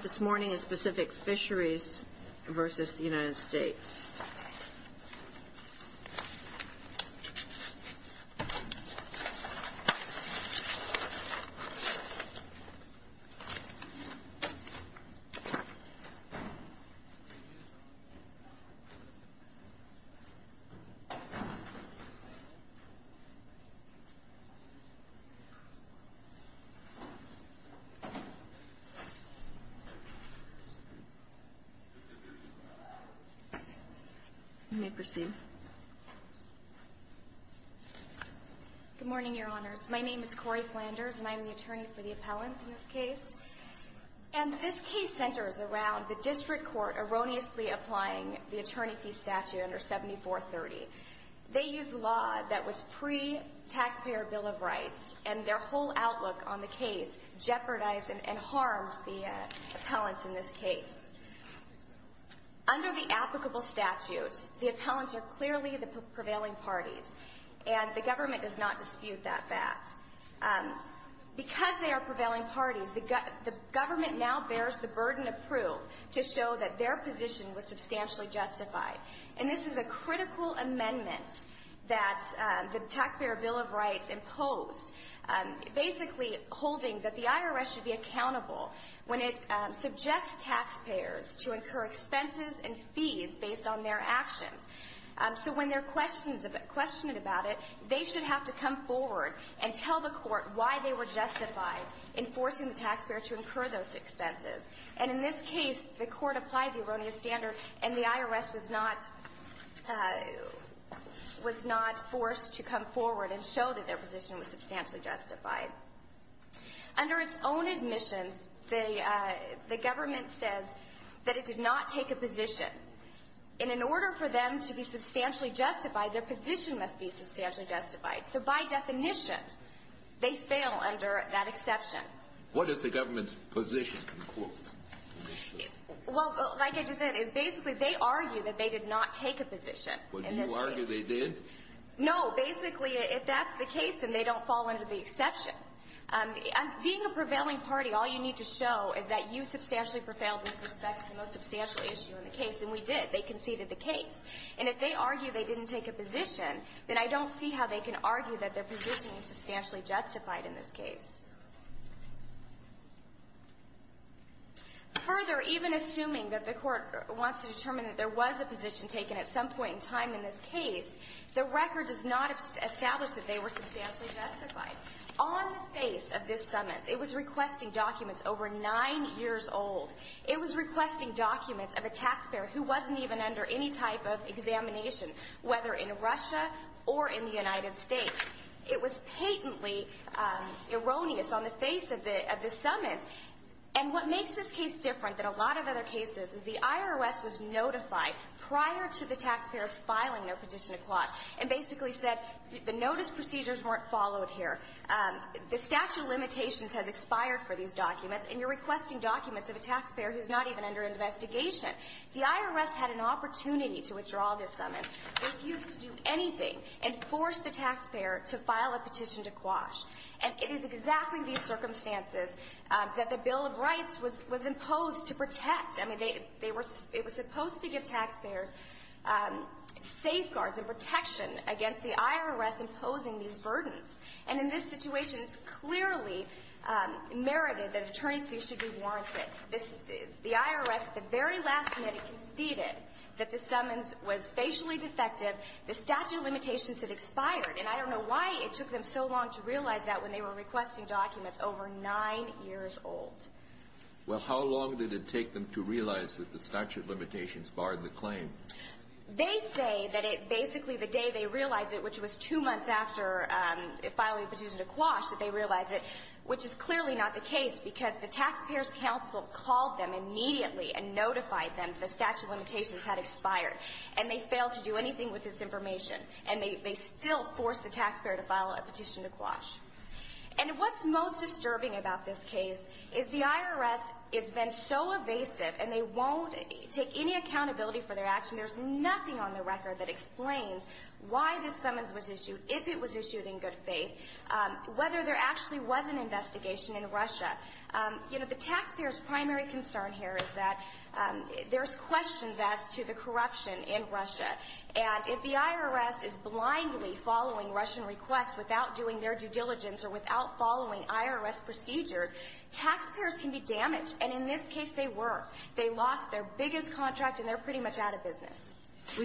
Fisheries v. United States. Good morning, Your Honors. My name is Cori Flanders, and I am the attorney for the appellants in this case. And this case centers around the district court erroneously applying the attorney fee statute under 7430. They used law that was pre-taxpayer Bill of Rights, and their whole outlook on the case jeopardized and harmed the appellants in this case. Under the applicable statute, the appellants are clearly the prevailing parties, and the government does not dispute that fact. Because they are prevailing parties, the government now bears the burden of proof to show that their position was substantially justified. And this is a basically holding that the IRS should be accountable when it subjects taxpayers to incur expenses and fees based on their actions. So when they're questioned about it, they should have to come forward and tell the court why they were justified in forcing the taxpayer to incur those expenses. And in this case, the court applied the erroneous standard, and the IRS was not forced to come forward and show that their position was substantially justified. Under its own admissions, the government says that it did not take a position. And in order for them to be substantially justified, their position must be substantially justified. So by definition, they fail under that exception. What does the government's position conclude? Well, like I just said, it's basically they argue that they did not take a position in this case. Would you argue they did? No. Basically, if that's the case, then they don't fall under the exception. Being a prevailing party, all you need to show is that you substantially prevailed with respect to the most substantial issue in the case, and we did. They conceded the case. And if they argue they didn't take a position, then I don't see how they can argue that their position was substantially justified in this case. Further, even assuming that the court wants to determine that there was a position taken at some point in time in this case, the record does not establish that they were substantially justified. On the face of this summons, it was requesting documents over nine years old. It was requesting documents of a taxpayer who wasn't even under any type of examination, whether in Russia or in the United States. It was patently erroneous on the face of this summons. And what makes this case different than a lot of other cases is the IRS was notified prior to the taxpayers filing their petition to quash and basically said the notice procedures weren't followed here. The statute of limitations has expired for these documents, and you're requesting documents of a taxpayer who's not even under investigation. The IRS had an opportunity to withdraw this summons, refused to do anything, and forced the taxpayer to file a petition to quash. And it is exactly these circumstances that the Bill of Rights was imposed to protect. I mean, they were supposed to give taxpayers safeguards and protection against the IRS imposing these burdens. And in this situation, it's clearly merited that attorneys' fees should be warranted. The IRS, at the very last minute, conceded that the summons was facially defective, the statute of limitations had expired. And I don't know why it took them so long to realize that when they were requesting documents over nine years old. Well, how long did it take them to realize that the statute of limitations barred the claim? They say that it basically the day they realized it, which was two months after filing the petition to quash, that they realized it, which is clearly not the case because the taxpayers' counsel called them immediately and notified them the statute of limitations had expired. And they failed to do anything with this information. And they still forced the taxpayer to file a petition to quash. And what's most striking is that the IRS has been so evasive and they won't take any accountability for their action, there's nothing on the record that explains why this summons was issued, if it was issued in good faith, whether there actually was an investigation in Russia. You know, the taxpayers' primary concern here is that there's questions as to the corruption in Russia. And if the IRS is blindly following Russian requests without doing their due diligence or without following IRS procedures, taxpayers can be damaged. And in this case, they were. They lost their biggest contract, and they're pretty much out of business.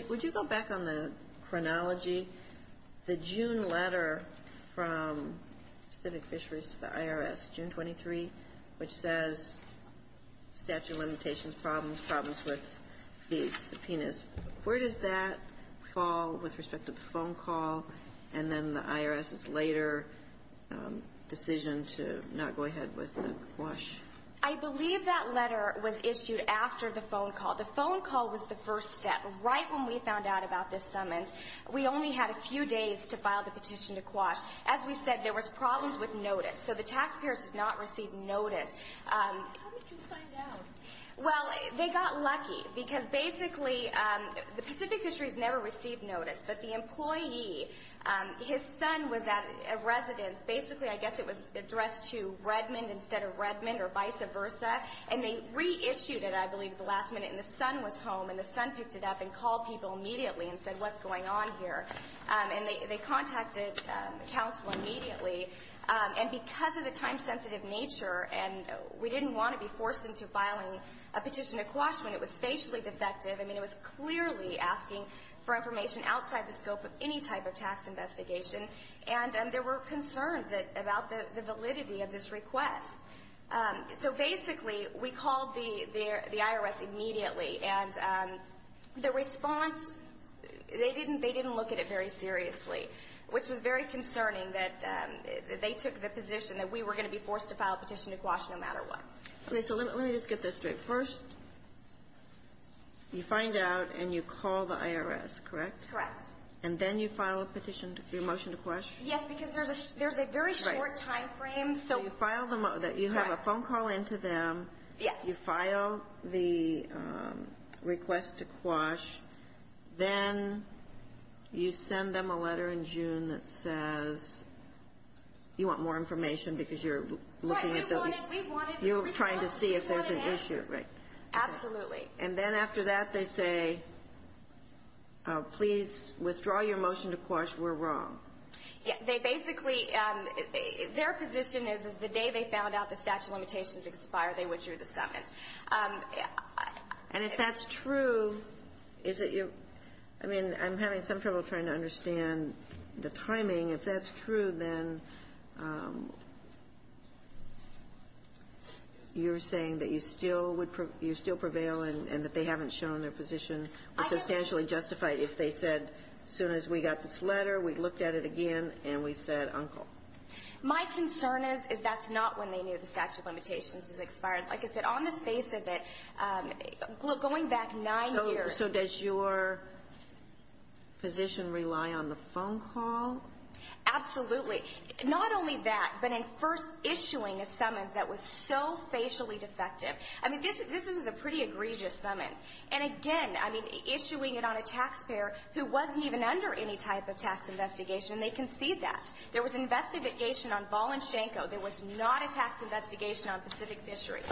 Would you go back on the chronology? The June letter from Civic Fisheries to the IRS, June 23, which says statute of limitations, problems, problems with these subpoenas, where does that fall with respect to the phone call and then the IRS's later decision to not go ahead with the quash? I believe that letter was issued after the phone call. The phone call was the first step. Right when we found out about this summons, we only had a few days to file the petition to quash. As we said, there was problems with notice. So the taxpayers did not receive notice. How did you find out? Well, they got lucky. Because basically, the Pacific Fisheries never received notice. But the employee, his son was at a residence. Basically, I guess it was addressed to Redmond instead of Redmond or vice versa. And they reissued it, I believe, at the last minute. And the son was home. And the son picked it up and called people immediately and said, what's going on here? And they contacted counsel immediately. And because of the time-sensitive nature, and we didn't want to be forced into filing a petition to quash when it was facially defective, I outside the scope of any type of tax investigation. And there were concerns about the validity of this request. So basically, we called the IRS immediately. And the response, they didn't look at it very seriously, which was very concerning. That they took the position that we were going to be forced to file a petition to quash no matter what. Okay. So let me just get this straight. First, you find out and you call the IRS. Correct? Correct. And then you file a petition, your motion to quash? Yes, because there's a very short time frame. So you have a phone call in to them. Yes. You file the request to quash. Then you send them a letter in June that says, you want more information because you're trying to see if there's an issue. Absolutely. And then after that, they say, please withdraw your motion to quash. We're wrong. They basically, their position is, is the day they found out the statute of limitations expired, they withdrew the summons. And if that's true, is it your, I mean, I'm having some trouble trying to understand the timing. If that's true, then you're saying that you still would, you still prevail and that they haven't shown their position was substantially justified if they said, as soon as we got this letter, we looked at it again, and we said, uncle. My concern is, is that's not when they knew the statute of limitations is expired. Like I said, on the face of it, going back nine years. So does your position rely on the phone call? Absolutely. Not only that, but in first issuing a summons that was so facially defective. I mean, this, this is a pretty egregious summons. And again, I mean, issuing it on a taxpayer who wasn't even under any type of tax investigation. They can see that. There was investigation on Voloshenko. There was not a tax investigation on Pacific Fisheries.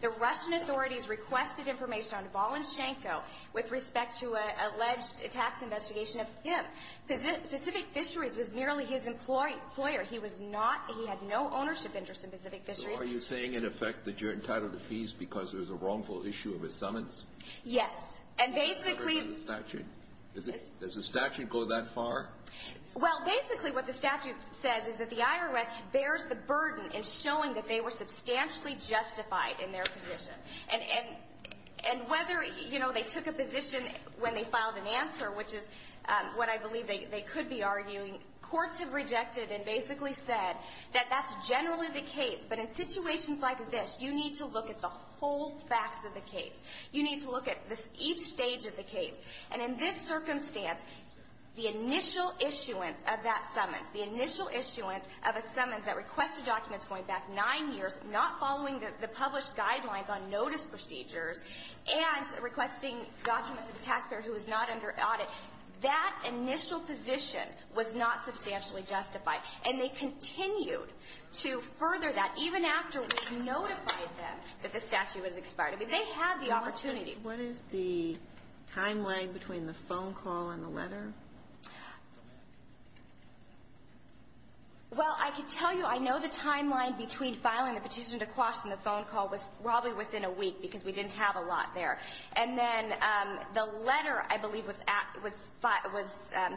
The Russian authorities requested information on Voloshenko with respect to an alleged tax investigation of him. Pacific Fisheries was merely his employer. He was not, he had no ownership interest in Pacific Fisheries. So are you saying, in effect, that you're entitled to fees because there was a wrongful issue of his summons? Yes. And basically... Does the statute go that far? Well, basically what the statute says is that the IRS bears the burden in showing that they were substantially justified. In their position. And whether, you know, they took a position when they filed an answer, which is what I believe they could be arguing. Courts have rejected and basically said that that's generally the case. But in situations like this, you need to look at the whole facts of the case. You need to look at each stage of the case. And in this circumstance, the initial issuance of that summons, the initial issuance of a summons that requested documents going back nine years, not following the published guidelines on notice procedures, and requesting documents of the taxpayer who was not under audit, that initial position was not substantially justified. And they continued to further that, even after we notified them that the statute was expired. I mean, they had the opportunity. What is the timeline between the phone call and the letter? Well, I can tell you, I know the timeline between filing the petition to Quash and the phone call was probably within a week, because we didn't have a lot there. And then the letter, I believe, was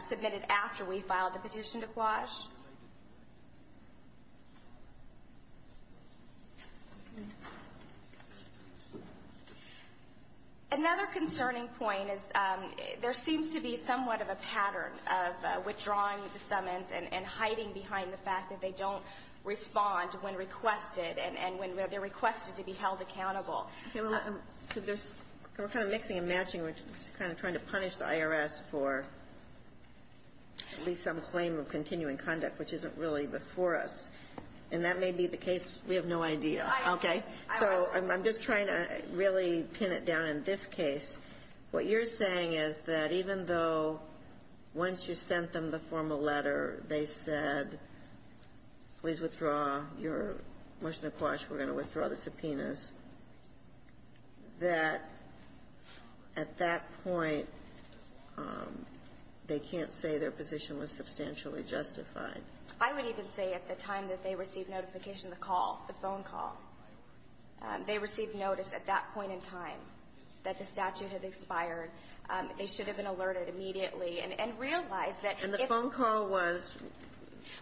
submitted after we filed the petition to Quash. Another concerning point is there seems to be somewhat of a pattern of withdrawing the summons and hiding behind the fact that they don't respond when requested and when they're requested to be held accountable. Okay. Well, so there's we're kind of mixing and matching. We're kind of trying to punish the IRS for at least some claim of continuing conduct, which isn't really before us. And that may be the case. We have no idea. Okay. So I'm just trying to really pin it down in this case. What you're saying is that even though once you sent them the formal letter, they said, please withdraw your motion to Quash, we're going to withdraw the subpoenas, that at that point, they can't say their position was substantially justified. I would even say at the time that they received notification, the call, the phone call, they received notice at that point in time that the statute had expired. They should have been alerted immediately and realized that if the phone call was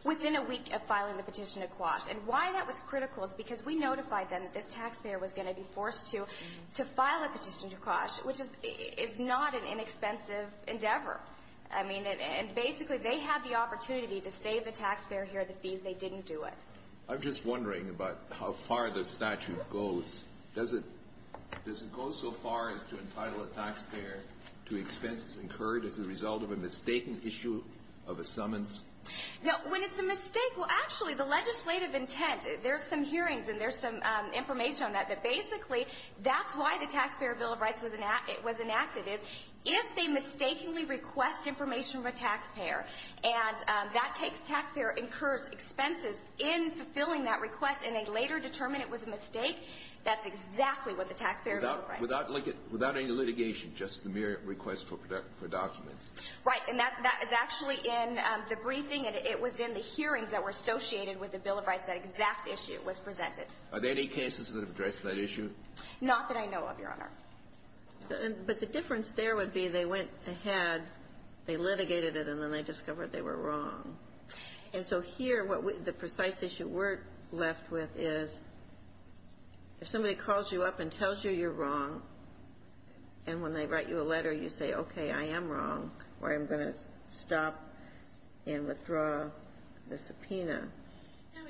Within a week of filing the petition to Quash. And why that was critical is because we notified them that this taxpayer was going to be forced to file a petition to Quash, which is not an inexpensive endeavor. I mean, and basically, they had the opportunity to save the taxpayer here the fees. They didn't do it. I'm just wondering about how far the statute goes. Does it go so far as to entitle a taxpayer to expenses incurred as a result of a mistaken issue of a summons? Now, when it's a mistake, well, actually, the legislative intent, there's some hearings and there's some information on that, but basically, that's why the Taxpayer Bill of information of a taxpayer, and that takes taxpayer incurred expenses in fulfilling that request, and they later determined it was a mistake. That's exactly what the Taxpayer Bill of Rights. Without any litigation, just the mere request for documents? Right, and that is actually in the briefing. It was in the hearings that were associated with the Bill of Rights, that exact issue was presented. Are there any cases that have addressed that issue? Not that I know of, Your Honor. But the difference there would be they went ahead, they litigated it, and then they discovered they were wrong. And so here, the precise issue we're left with is if somebody calls you up and tells you you're wrong, and when they write you a letter, you say, okay, I am wrong, or I'm going to stop and withdraw the subpoena,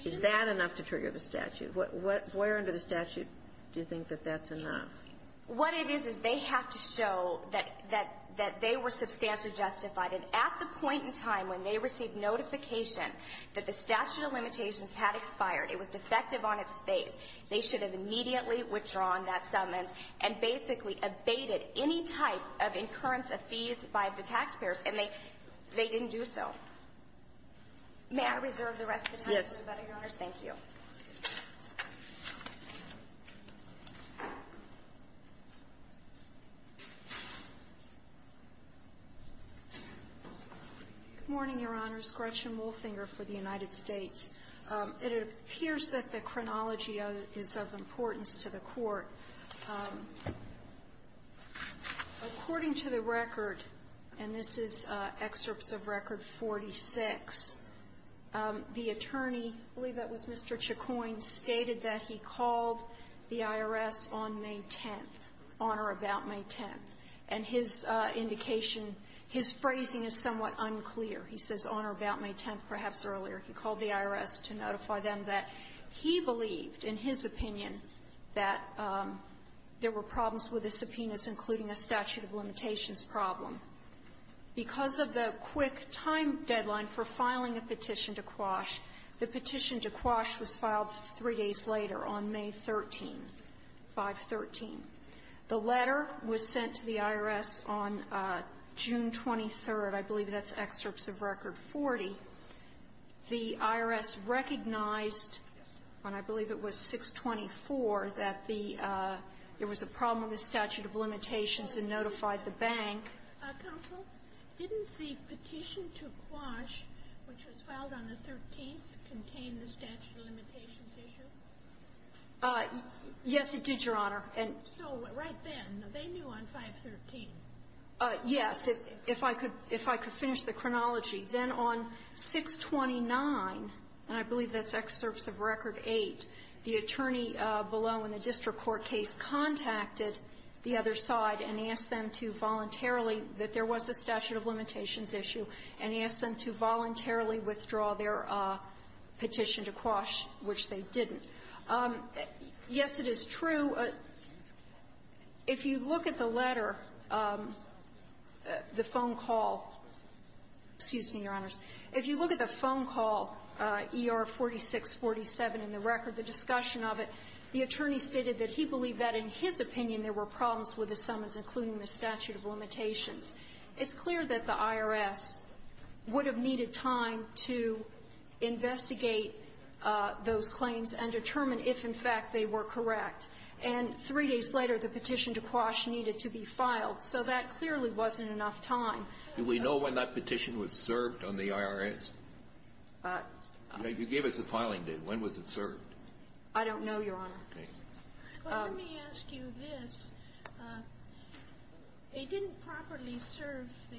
is that enough to trigger the statute? Where under the statute do you think that that's enough? What it is, is they have to show that they were substantially justified. And at the point in time when they received notification that the statute of limitations had expired, it was defective on its face, they should have immediately withdrawn that summons, and basically abated any type of incurrence of fees by the taxpayers, and they didn't do so. May I reserve the rest of the time? Yes. Thank you. Good morning, Your Honors. Gretchen Wolfinger for the United States. It appears that the chronology is of importance to the Court. According to the record, and this is excerpts of Record 46, the attorney, I believe that was Mr. Chacoin, stated that he called the IRS on May 10th, on or about May 10th, and his indication, his phrasing is somewhat unclear. He says on or about May 10th, perhaps earlier. He called the IRS to notify them that he believed, in his opinion, that there were problems with the subpoenas, including a statute of limitations problem. Because of the quick time deadline for filing a petition to Quash, the petition to Quash was filed three days later on May 13th, 5-13. The letter was sent to the IRS, recognized, and I believe it was 6-24, that there was a problem with the statute of limitations, and notified the bank. Counsel, didn't the petition to Quash, which was filed on the 13th, contain the statute of limitations issue? Yes, it did, Your Honor. So right then, they knew on 5-13. Yes. If I could finish the chronology, then on 6-29, and I believe that's excerpts of Record 8, the attorney below in the district court case contacted the other side and asked them to voluntarily, that there was a statute of limitations issue, and asked them to voluntarily withdraw their petition to Quash, which they didn't. Yes, it is true. If you look at the letter, the phone call, excuse me, Your Honors, if you look at the phone call, ER 4647, in the record, the discussion of it, the attorney stated that he believed that in his opinion there were problems with the subpoenas, including the statute of limitations. It's clear that the IRS would have needed time to investigate those claims and determine if, in fact, they were correct. And three days later, the petition to Quash needed to be filed. So that clearly wasn't enough time. Do we know when that petition was served on the IRS? You gave us a filing date. When was it served? I don't know, Your Honor. Well, let me ask you this. It didn't properly serve the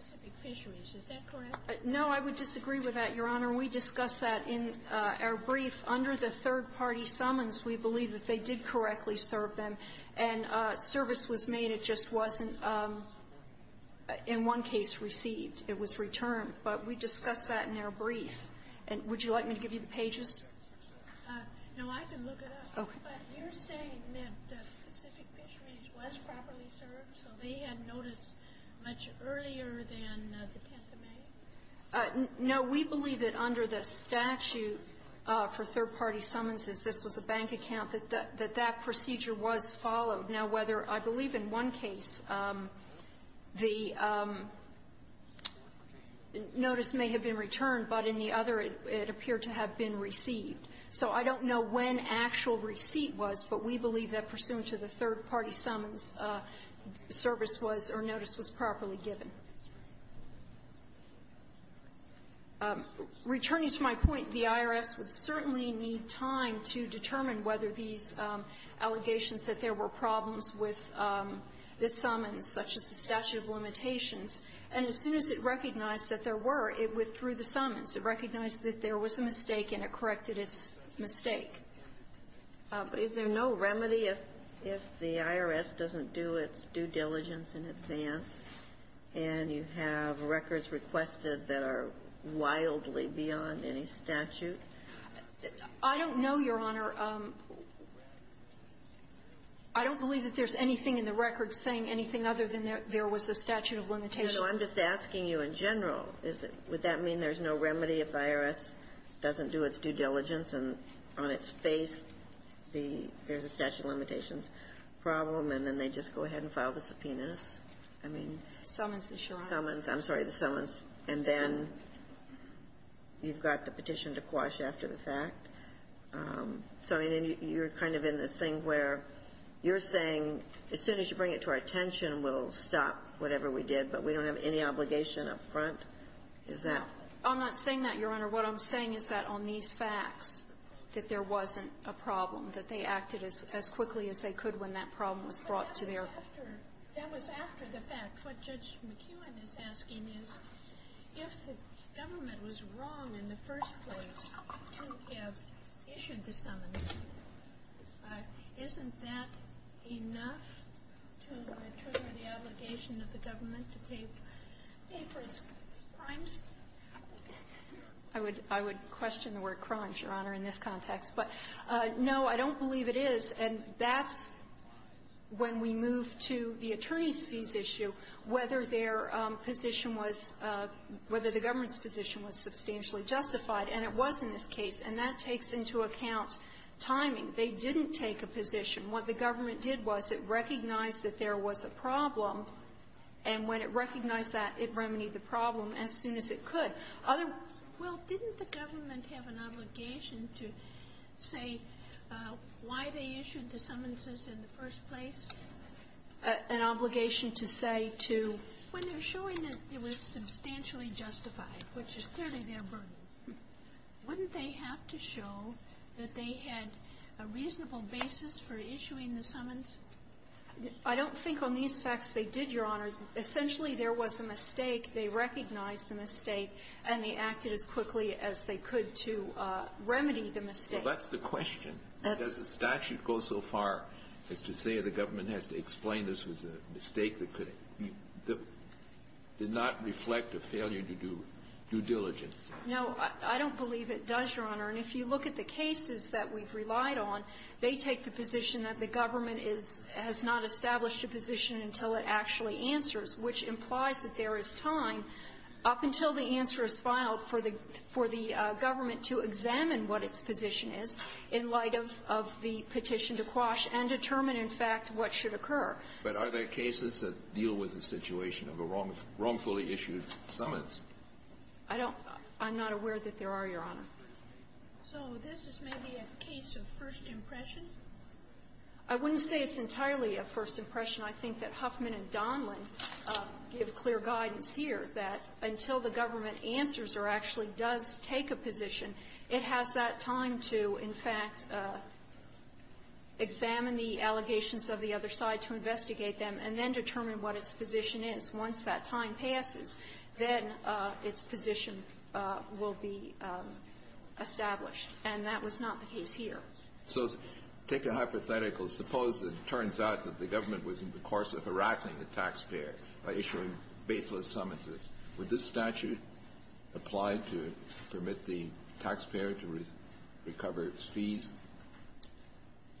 Pacific Fisheries. Is that correct? No, I would disagree with that, Your Honor. We discussed that in our brief. Under the third-party summons, we believe that they did correctly serve them. And service was made. It just wasn't, in one case, received. It was returned. But we discussed that in our brief. And would you like me to give you the pages? No, I can look it up. Okay. But you're saying that Pacific Fisheries was properly served, so they had notice much earlier than the 10th of May? No. We believe that under the statute for third-party summonses, this was a bank account, that that procedure was followed. Now, whether I believe in one case the notice may have been returned, but in the other it appeared to have been received. So I don't know when actual receipt was, but we believe that pursuant to the third-party summons, service was or notice was properly given. Returning to my point, the IRS would certainly need time to determine whether these allegations that there were problems with the summons, such as the statute of limitations. And as soon as it recognized that there were, it withdrew the summons. It recognized that there was a mistake, and it corrected its mistake. Is there no remedy if the IRS doesn't do its due diligence in advance, and you have records requested that are wildly beyond any statute? I don't know, Your Honor. I don't believe that there's anything in the record saying anything other than there was a statute of limitations. No, I'm just asking you in general. Would that mean there's no remedy if the IRS doesn't do its due diligence and on its face there's a statute of limitations problem, and then they just go ahead and file the subpoenas? Summons, Your Honor. Summons. I'm sorry, the summons. And then you've got the petition to quash after the fact. So you're kind of in this thing where you're saying as soon as you bring it to our Is that? I'm not saying that, Your Honor. What I'm saying is that on these facts that there wasn't a problem, that they acted as quickly as they could when that problem was brought to their. That was after the fact. What Judge McKeown is asking is if the government was wrong in the first place to have issued the summons, isn't that enough to trigger the obligation of the government to pay for its crimes? I would question the word crimes, Your Honor, in this context. But no, I don't believe it is. And that's when we move to the attorney's fees issue, whether their position was – whether the government's position was substantially justified. And it was in this case. And that takes into account timing. They didn't take a position. What the government did was it recognized that there was a problem. And when it recognized that, it remedied the problem as soon as it could. Other – Well, didn't the government have an obligation to say why they issued the summonses in the first place? An obligation to say to – When they're showing that it was substantially justified, which is clearly their burden, wouldn't they have to show that they had a reasonable basis for issuing the summons? I don't think on these facts they did, Your Honor. Essentially, there was a mistake. They recognized the mistake. And they acted as quickly as they could to remedy the mistake. Well, that's the question. Does the statute go so far as to say the government has to explain this was a mistake that could – did not reflect a failure to do due diligence? No. I don't believe it does, Your Honor. And if you look at the cases that we've relied on, they take the position that the government has not established a position until it actually answers, which implies that there is time up until the answer is filed for the government to examine what its position is in light of the petition to Quash and determine, in fact, what should occur. But are there cases that deal with the situation of a wrongfully issued summons? I don't – I'm not aware that there are, Your Honor. So this is maybe a case of first impression? I wouldn't say it's entirely a first impression. I think that Huffman and Donlan give clear guidance here that until the government answers or actually does take a position, it has that time to, in fact, examine the allegations of the other side to investigate them and then determine what its position is. Once that time passes, then its position will be established. And that was not the case here. So take a hypothetical. Suppose it turns out that the government was in the course of harassing the taxpayer by issuing baseless summonses. Would this statute apply to permit the taxpayer to recover its fees?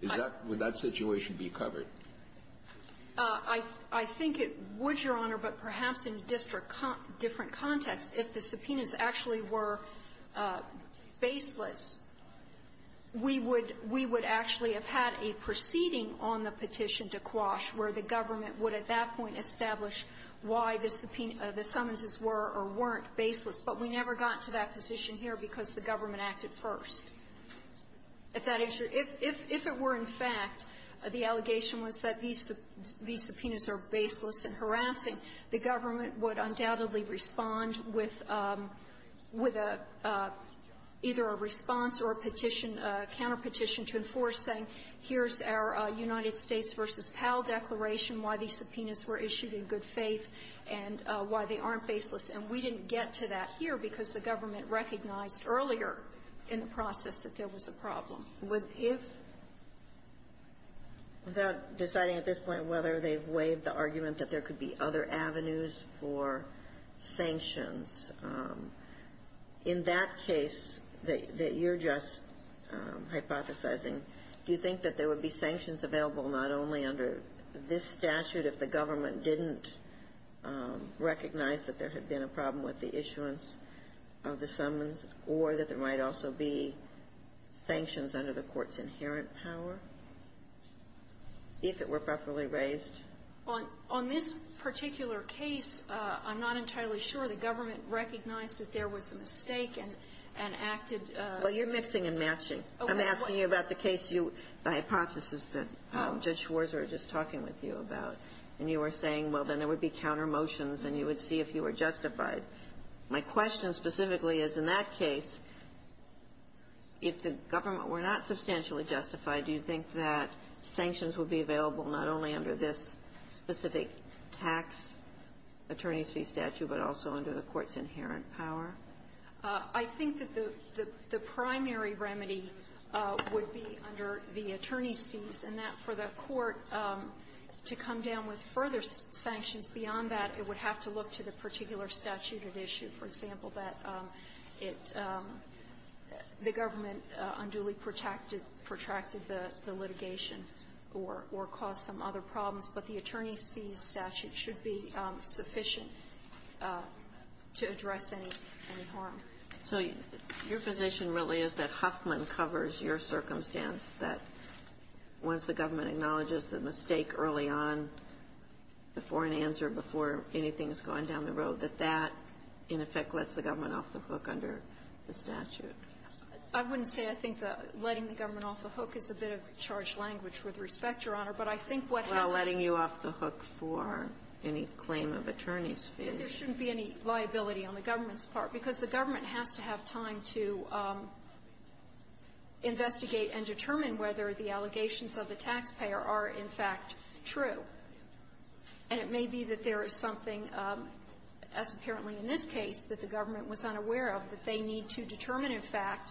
Is that – would that situation be covered? I think it would, Your Honor, but perhaps in a district – different context. If the subpoenas actually were baseless, we would – we would actually have had a proceeding on the petition to Quash where the government would at that point establish why the summonses were or weren't baseless. But we never got to that position here because the government acted first. If that – if it were in fact the allegation was that these subpoenas are baseless and harassing, the government would undoubtedly respond with – with either a response or a petition, a counterpetition to enforce, saying, here's our United States v. Powell declaration, why these subpoenas were issued in good faith, and why they aren't baseless. And we didn't get to that here because the government recognized earlier in the process that there was a problem. Would – if – without deciding at this point whether they've waived the argument that there could be other avenues for sanctions, in that case that you're just hypothesizing, do you think that there would be sanctions available not only under this statute if the government didn't recognize that there had been a problem with the issuance of the summons, or that there might also be sanctions under the Court's inherent power, if it were properly raised? On – on this particular case, I'm not entirely sure. The government recognized that there was a mistake and acted – Well, you're mixing and matching. I'm asking you about the case you – the hypothesis that Judge Schwarzer was just talking with you about. And you were saying, well, then there would be countermotions, and you would see if you were justified. My question specifically is, in that case, if the government were not substantially justified, do you think that sanctions would be available not only under this specific tax attorney's fee statute, but also under the Court's inherent power? I think that the – the primary remedy would be under the attorney's fees, and that for the Court to come down with further sanctions beyond that, it would have to look to the particular statute at issue. For example, that it – the government unduly protracted the litigation or caused some other problems. But the attorney's fees statute should be sufficient to address any – any harm. So your position really is that Huffman covers your circumstance, that once the government road, that that, in effect, lets the government off the hook under the statute? I wouldn't say. I think that letting the government off the hook is a bit of charged language with respect, Your Honor. But I think what helps – Well, letting you off the hook for any claim of attorney's fees. There shouldn't be any liability on the government's part, because the government has to have time to investigate and determine whether the allegations of the taxpayer are, in fact, true. And it may be that there is something, as apparently in this case, that the government was unaware of that they need to determine, in fact,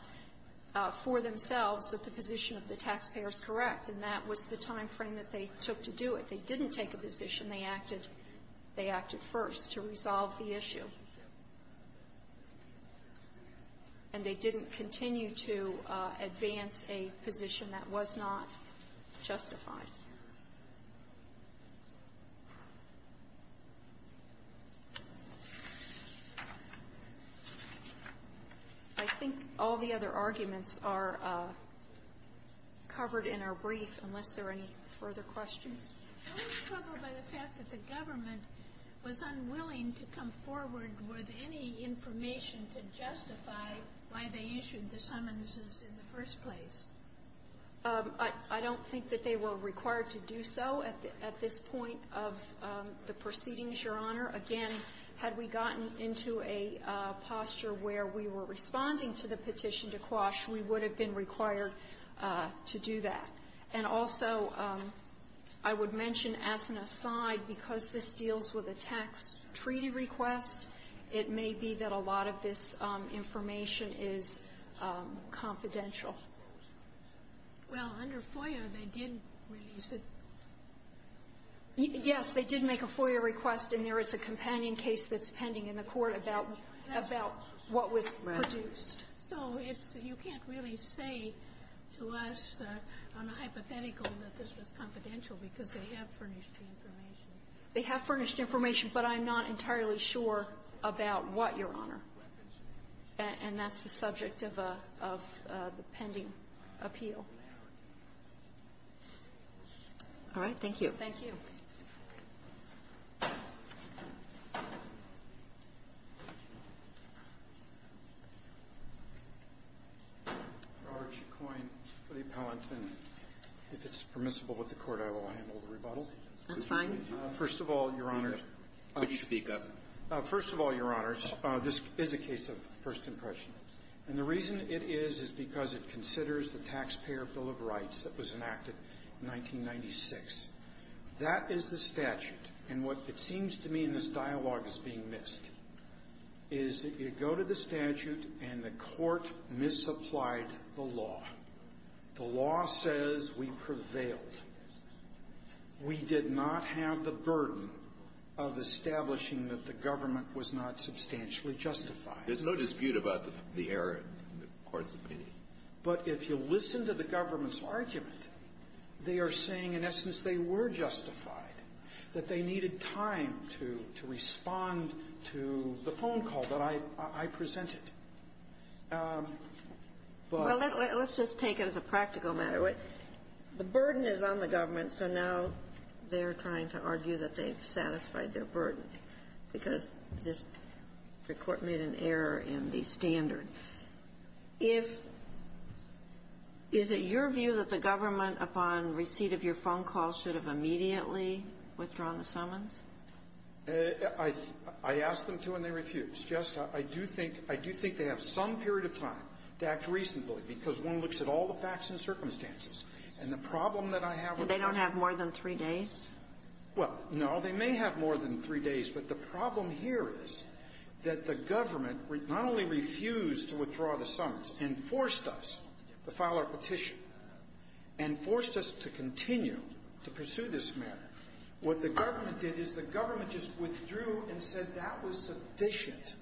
for themselves that the position of the taxpayer is correct, and that was the timeframe that they took to do it. They didn't take a position. They acted – they acted first to resolve the issue. And they didn't continue to advance a position that was not justified. I think all the other arguments are covered in our brief, unless there are any further questions. Don't you struggle by the fact that the government was unwilling to come forward with any information to justify why they issued the summonses in the first place? I don't think that they were required to do so at this point of the proceedings, Your Honor. Again, had we gotten into a posture where we were responding to the petition to quash, we would have been required to do that. And also, I would mention as an aside, because this deals with a tax treaty request, it may be that a lot of this information is confidential. Well, under FOIA, they did release it. Yes, they did make a FOIA request, and there is a companion case that's pending in the court about what was produced. So you can't really say to us on a hypothetical that this was confidential, because they have furnished the information. They have furnished information, but I'm not entirely sure about what, Your Honor. And that's the subject of the pending appeal. All right. Thank you. Thank you. If it's permissible with the Court, I will handle the rebuttal. That's fine. First of all, Your Honor. Please speak up. First of all, Your Honor, this is a case of first impression. And the reason it is is because it considers the Taxpayer Bill of Rights that was enacted in 1996. That is the statute. And what it seems to me in this dialogue is being missed is that you go to the statute and the Court misapplied the law. The law says we prevailed. We did not have the burden of establishing that the government was not substantially justified. There's no dispute about the error in the Court's opinion. But if you listen to the government's argument, they are saying, in essence, they were justified, that they needed time to respond to the phone call that I presented. But the burden is on the government, so now they're trying to argue that they've satisfied their burden because the Court made an error in the standard. If — is it your view that the government, upon receipt of your phone call, should have immediately withdrawn the summons? I asked them to, and they refused. Just — I do think — I do think they have some period of time to act reasonably because one looks at all the facts and circumstances. And the problem that I have — And they don't have more than three days? Well, no. They may have more than three days. But the problem here is that the government not only refused to withdraw the summons and forced us to file our petition and forced us to continue to pursue this matter, what the government did is the government just withdrew and said that was sufficient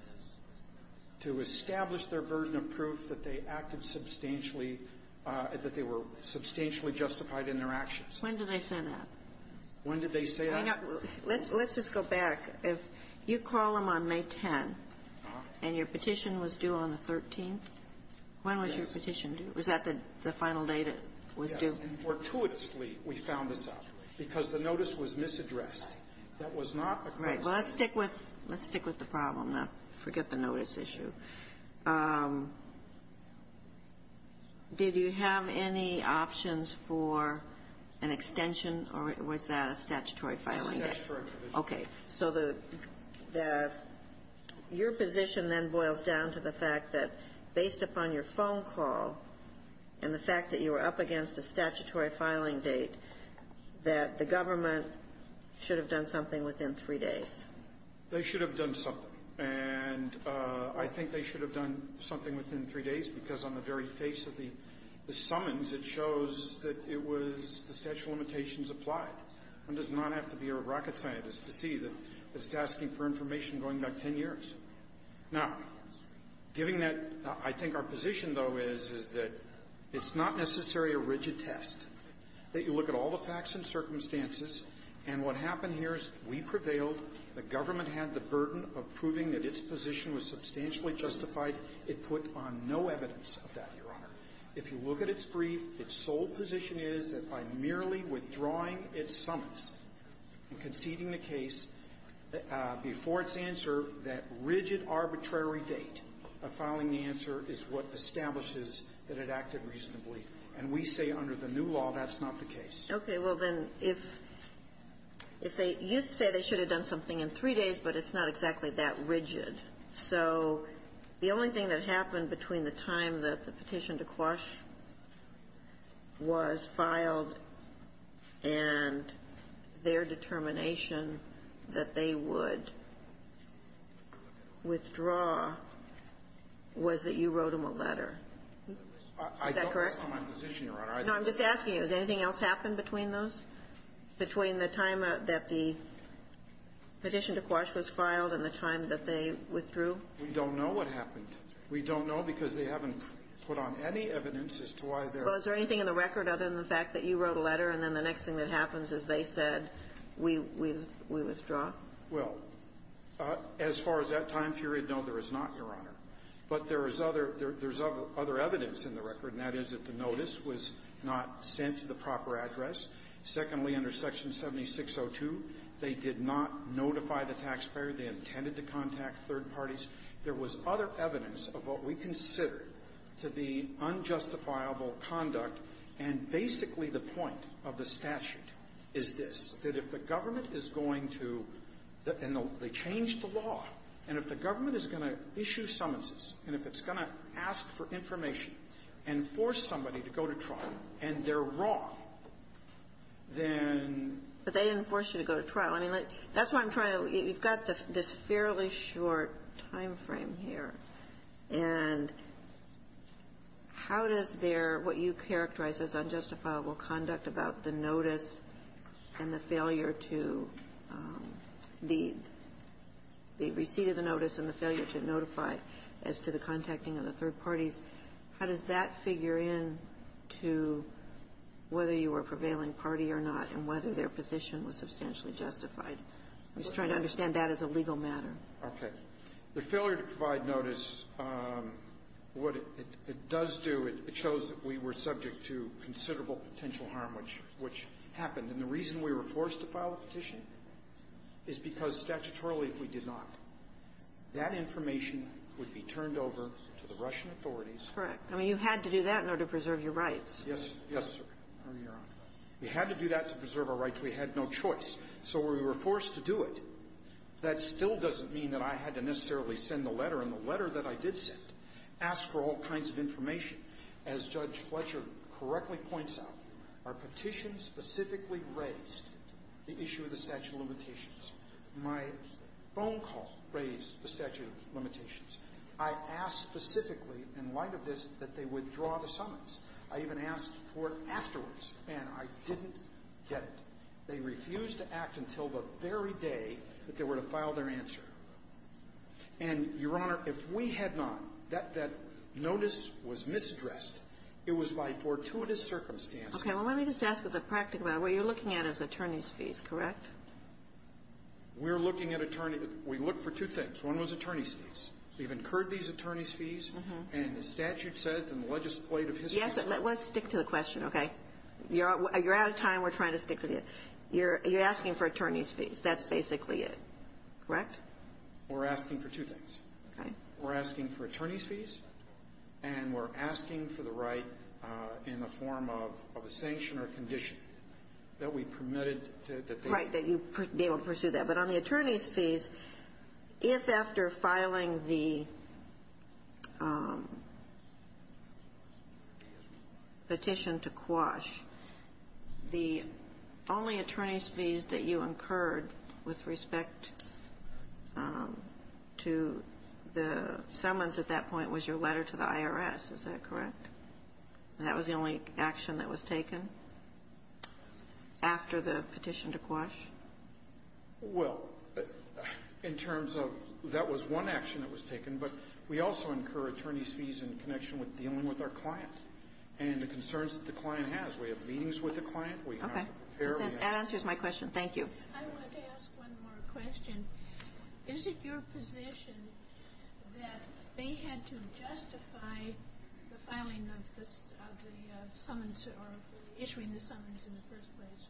to establish their burden of proof that they acted substantially — that they were substantially justified in their actions. When did they say that? When did they say that? Let's just go back. If you call them on May 10th, and your petition was due on the 13th, when was your petition due? Was that the final date it was due? Yes. And fortuitously, we found this out because the notice was misaddressed. That was not the case. Right. Well, let's stick with — let's stick with the problem now. Forget the notice issue. Did you have any options for an extension, or was that a statutory filing date? It's an extension for an extension. Okay. So the — your position then boils down to the fact that, based upon your phone call and the fact that you were up against a statutory filing date, that the government should have done something within three days. They should have done something. And I think they should have done something within three days, because on the very face of the summons, it shows that it was — the statute of limitations applied. One does not have to be a rocket scientist to see that it's asking for information going back 10 years. Now, giving that — I think our position, though, is, is that it's not necessarily a rigid test, that you look at all the facts and circumstances, and what happened here we prevailed. The government had the burden of proving that its position was substantially justified. It put on no evidence of that, Your Honor. If you look at its brief, its sole position is that by merely withdrawing its summons and conceding the case before its answer, that rigid arbitrary date of filing the answer is what establishes that it acted reasonably. And we say under the new law, that's not the case. Okay. Well, then, if they — you say they should have done something in three days, but it's not exactly that rigid. So the only thing that happened between the time that the petition to Quash was filed and their determination that they would withdraw was that you wrote them a letter. I don't know my position, Your Honor. No, I'm just asking you, has anything else happened between those, between the time that the petition to Quash was filed and the time that they withdrew? We don't know what happened. We don't know because they haven't put on any evidence as to why they're — Well, is there anything in the record other than the fact that you wrote a letter and then the next thing that happens is they said, we withdraw? Well, as far as that time period, no, there is not, Your Honor. But there is other — there's other evidence in the record, and that is that the notice was not sent to the proper address. Secondly, under Section 7602, they did not notify the taxpayer. They intended to contact third parties. There was other evidence of what we consider to be unjustifiable conduct. And basically, the point of the statute is this, that if the government is going to — and they changed the law, and if the government is going to issue summonses and if it's going to ask for information and force somebody to go to trial and they're wrong, then — But they didn't force you to go to trial. I mean, that's what I'm trying to — you've got this fairly short timeframe here, and how does their — what you characterize as unjustifiable conduct about the notice and the failure to — the receipt of the notice and the failure to notify as to the contacting of the third parties, how does that figure in to whether you were a prevailing party or not and whether their position was substantially justified? I'm just trying to understand that as a legal matter. Okay. The failure to provide notice, what it does do, it shows that we were subject to considerable potential harm, which — which happened. And the reason we were forced to file a petition is because, statutorily, if we did not, that information would be turned over to the Russian authorities. Correct. I mean, you had to do that in order to preserve your rights. Yes. Yes, Your Honor. We had to do that to preserve our rights. We had no choice. So we were forced to do it. That still doesn't mean that I had to necessarily send the letter. And the letter that I did send asked for all kinds of information. As Judge Fletcher correctly points out, our petition specifically raised the issue of the statute of limitations. My phone call raised the statute of limitations. I asked specifically in light of this that they withdraw the summons. I even asked for it afterwards, and I didn't get it. They refused to act until the very day that they were to file their answer. And, Your Honor, if we had not, that notice was misaddressed. It was by fortuitous circumstances. Okay. Well, let me just ask as a practical matter. What you're looking at is attorney's fees, correct? We're looking at attorney — we look for two things. One was attorney's fees. We've incurred these attorney's fees. And the statute says in the legislative history — Yes. Let's stick to the question, okay? You're out of time. We're trying to stick to the — you're asking for attorney's fees. That's basically it, correct? We're asking for two things. Okay. We're asking for attorney's fees, and we're asking for the right in the form of a sanction or condition that we permitted that they — Right, that you be able to pursue that. But on the attorney's fees, if after filing the petition to quash, the only attorney's fees that you incurred with respect to the summons at that point was your letter to the IRS. Is that correct? That was the only action that was taken after the petition to quash? Well, in terms of — that was one action that was taken, but we also incur attorney's fees in connection with dealing with our client and the concerns that the client has. We have meetings with the client. We have — Okay. That answers my question. Thank you. I wanted to ask one more question. Is it your position that they had to justify the filing of the summons or issuing the summons in the first place?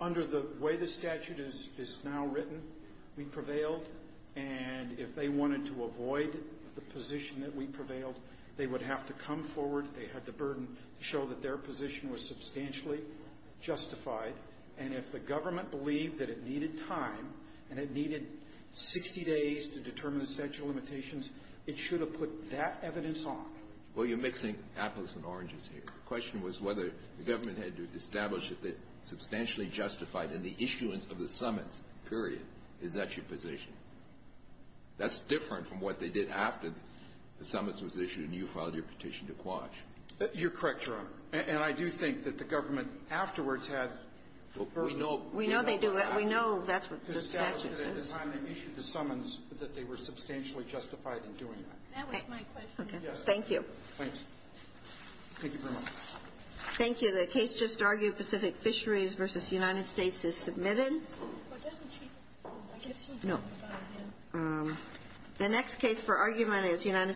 Under the way the statute is now written, we prevailed. And if they wanted to avoid the position that we prevailed, they would have to come forward. They had the burden to show that their position was substantially justified. And if the government believed that it needed time and it needed 60 days to determine the statute of limitations, it should have put that evidence on. Well, you're mixing apples and oranges here. My question was whether the government had to establish that they substantially justified in the issuance of the summons, period. Is that your position? That's different from what they did after the summons was issued and you filed your petition to quash. You're correct, Your Honor. And I do think that the government afterwards had the burden. We know they do. We know that's what the statute says. At the time they issued the summons, that they were substantially justified in doing that. That was my question. Okay. Thank you. Thank you. Thank you very much. Thank you. The case just argued, Pacific Fisheries v. United States, is submitted. The next case for argument is United States.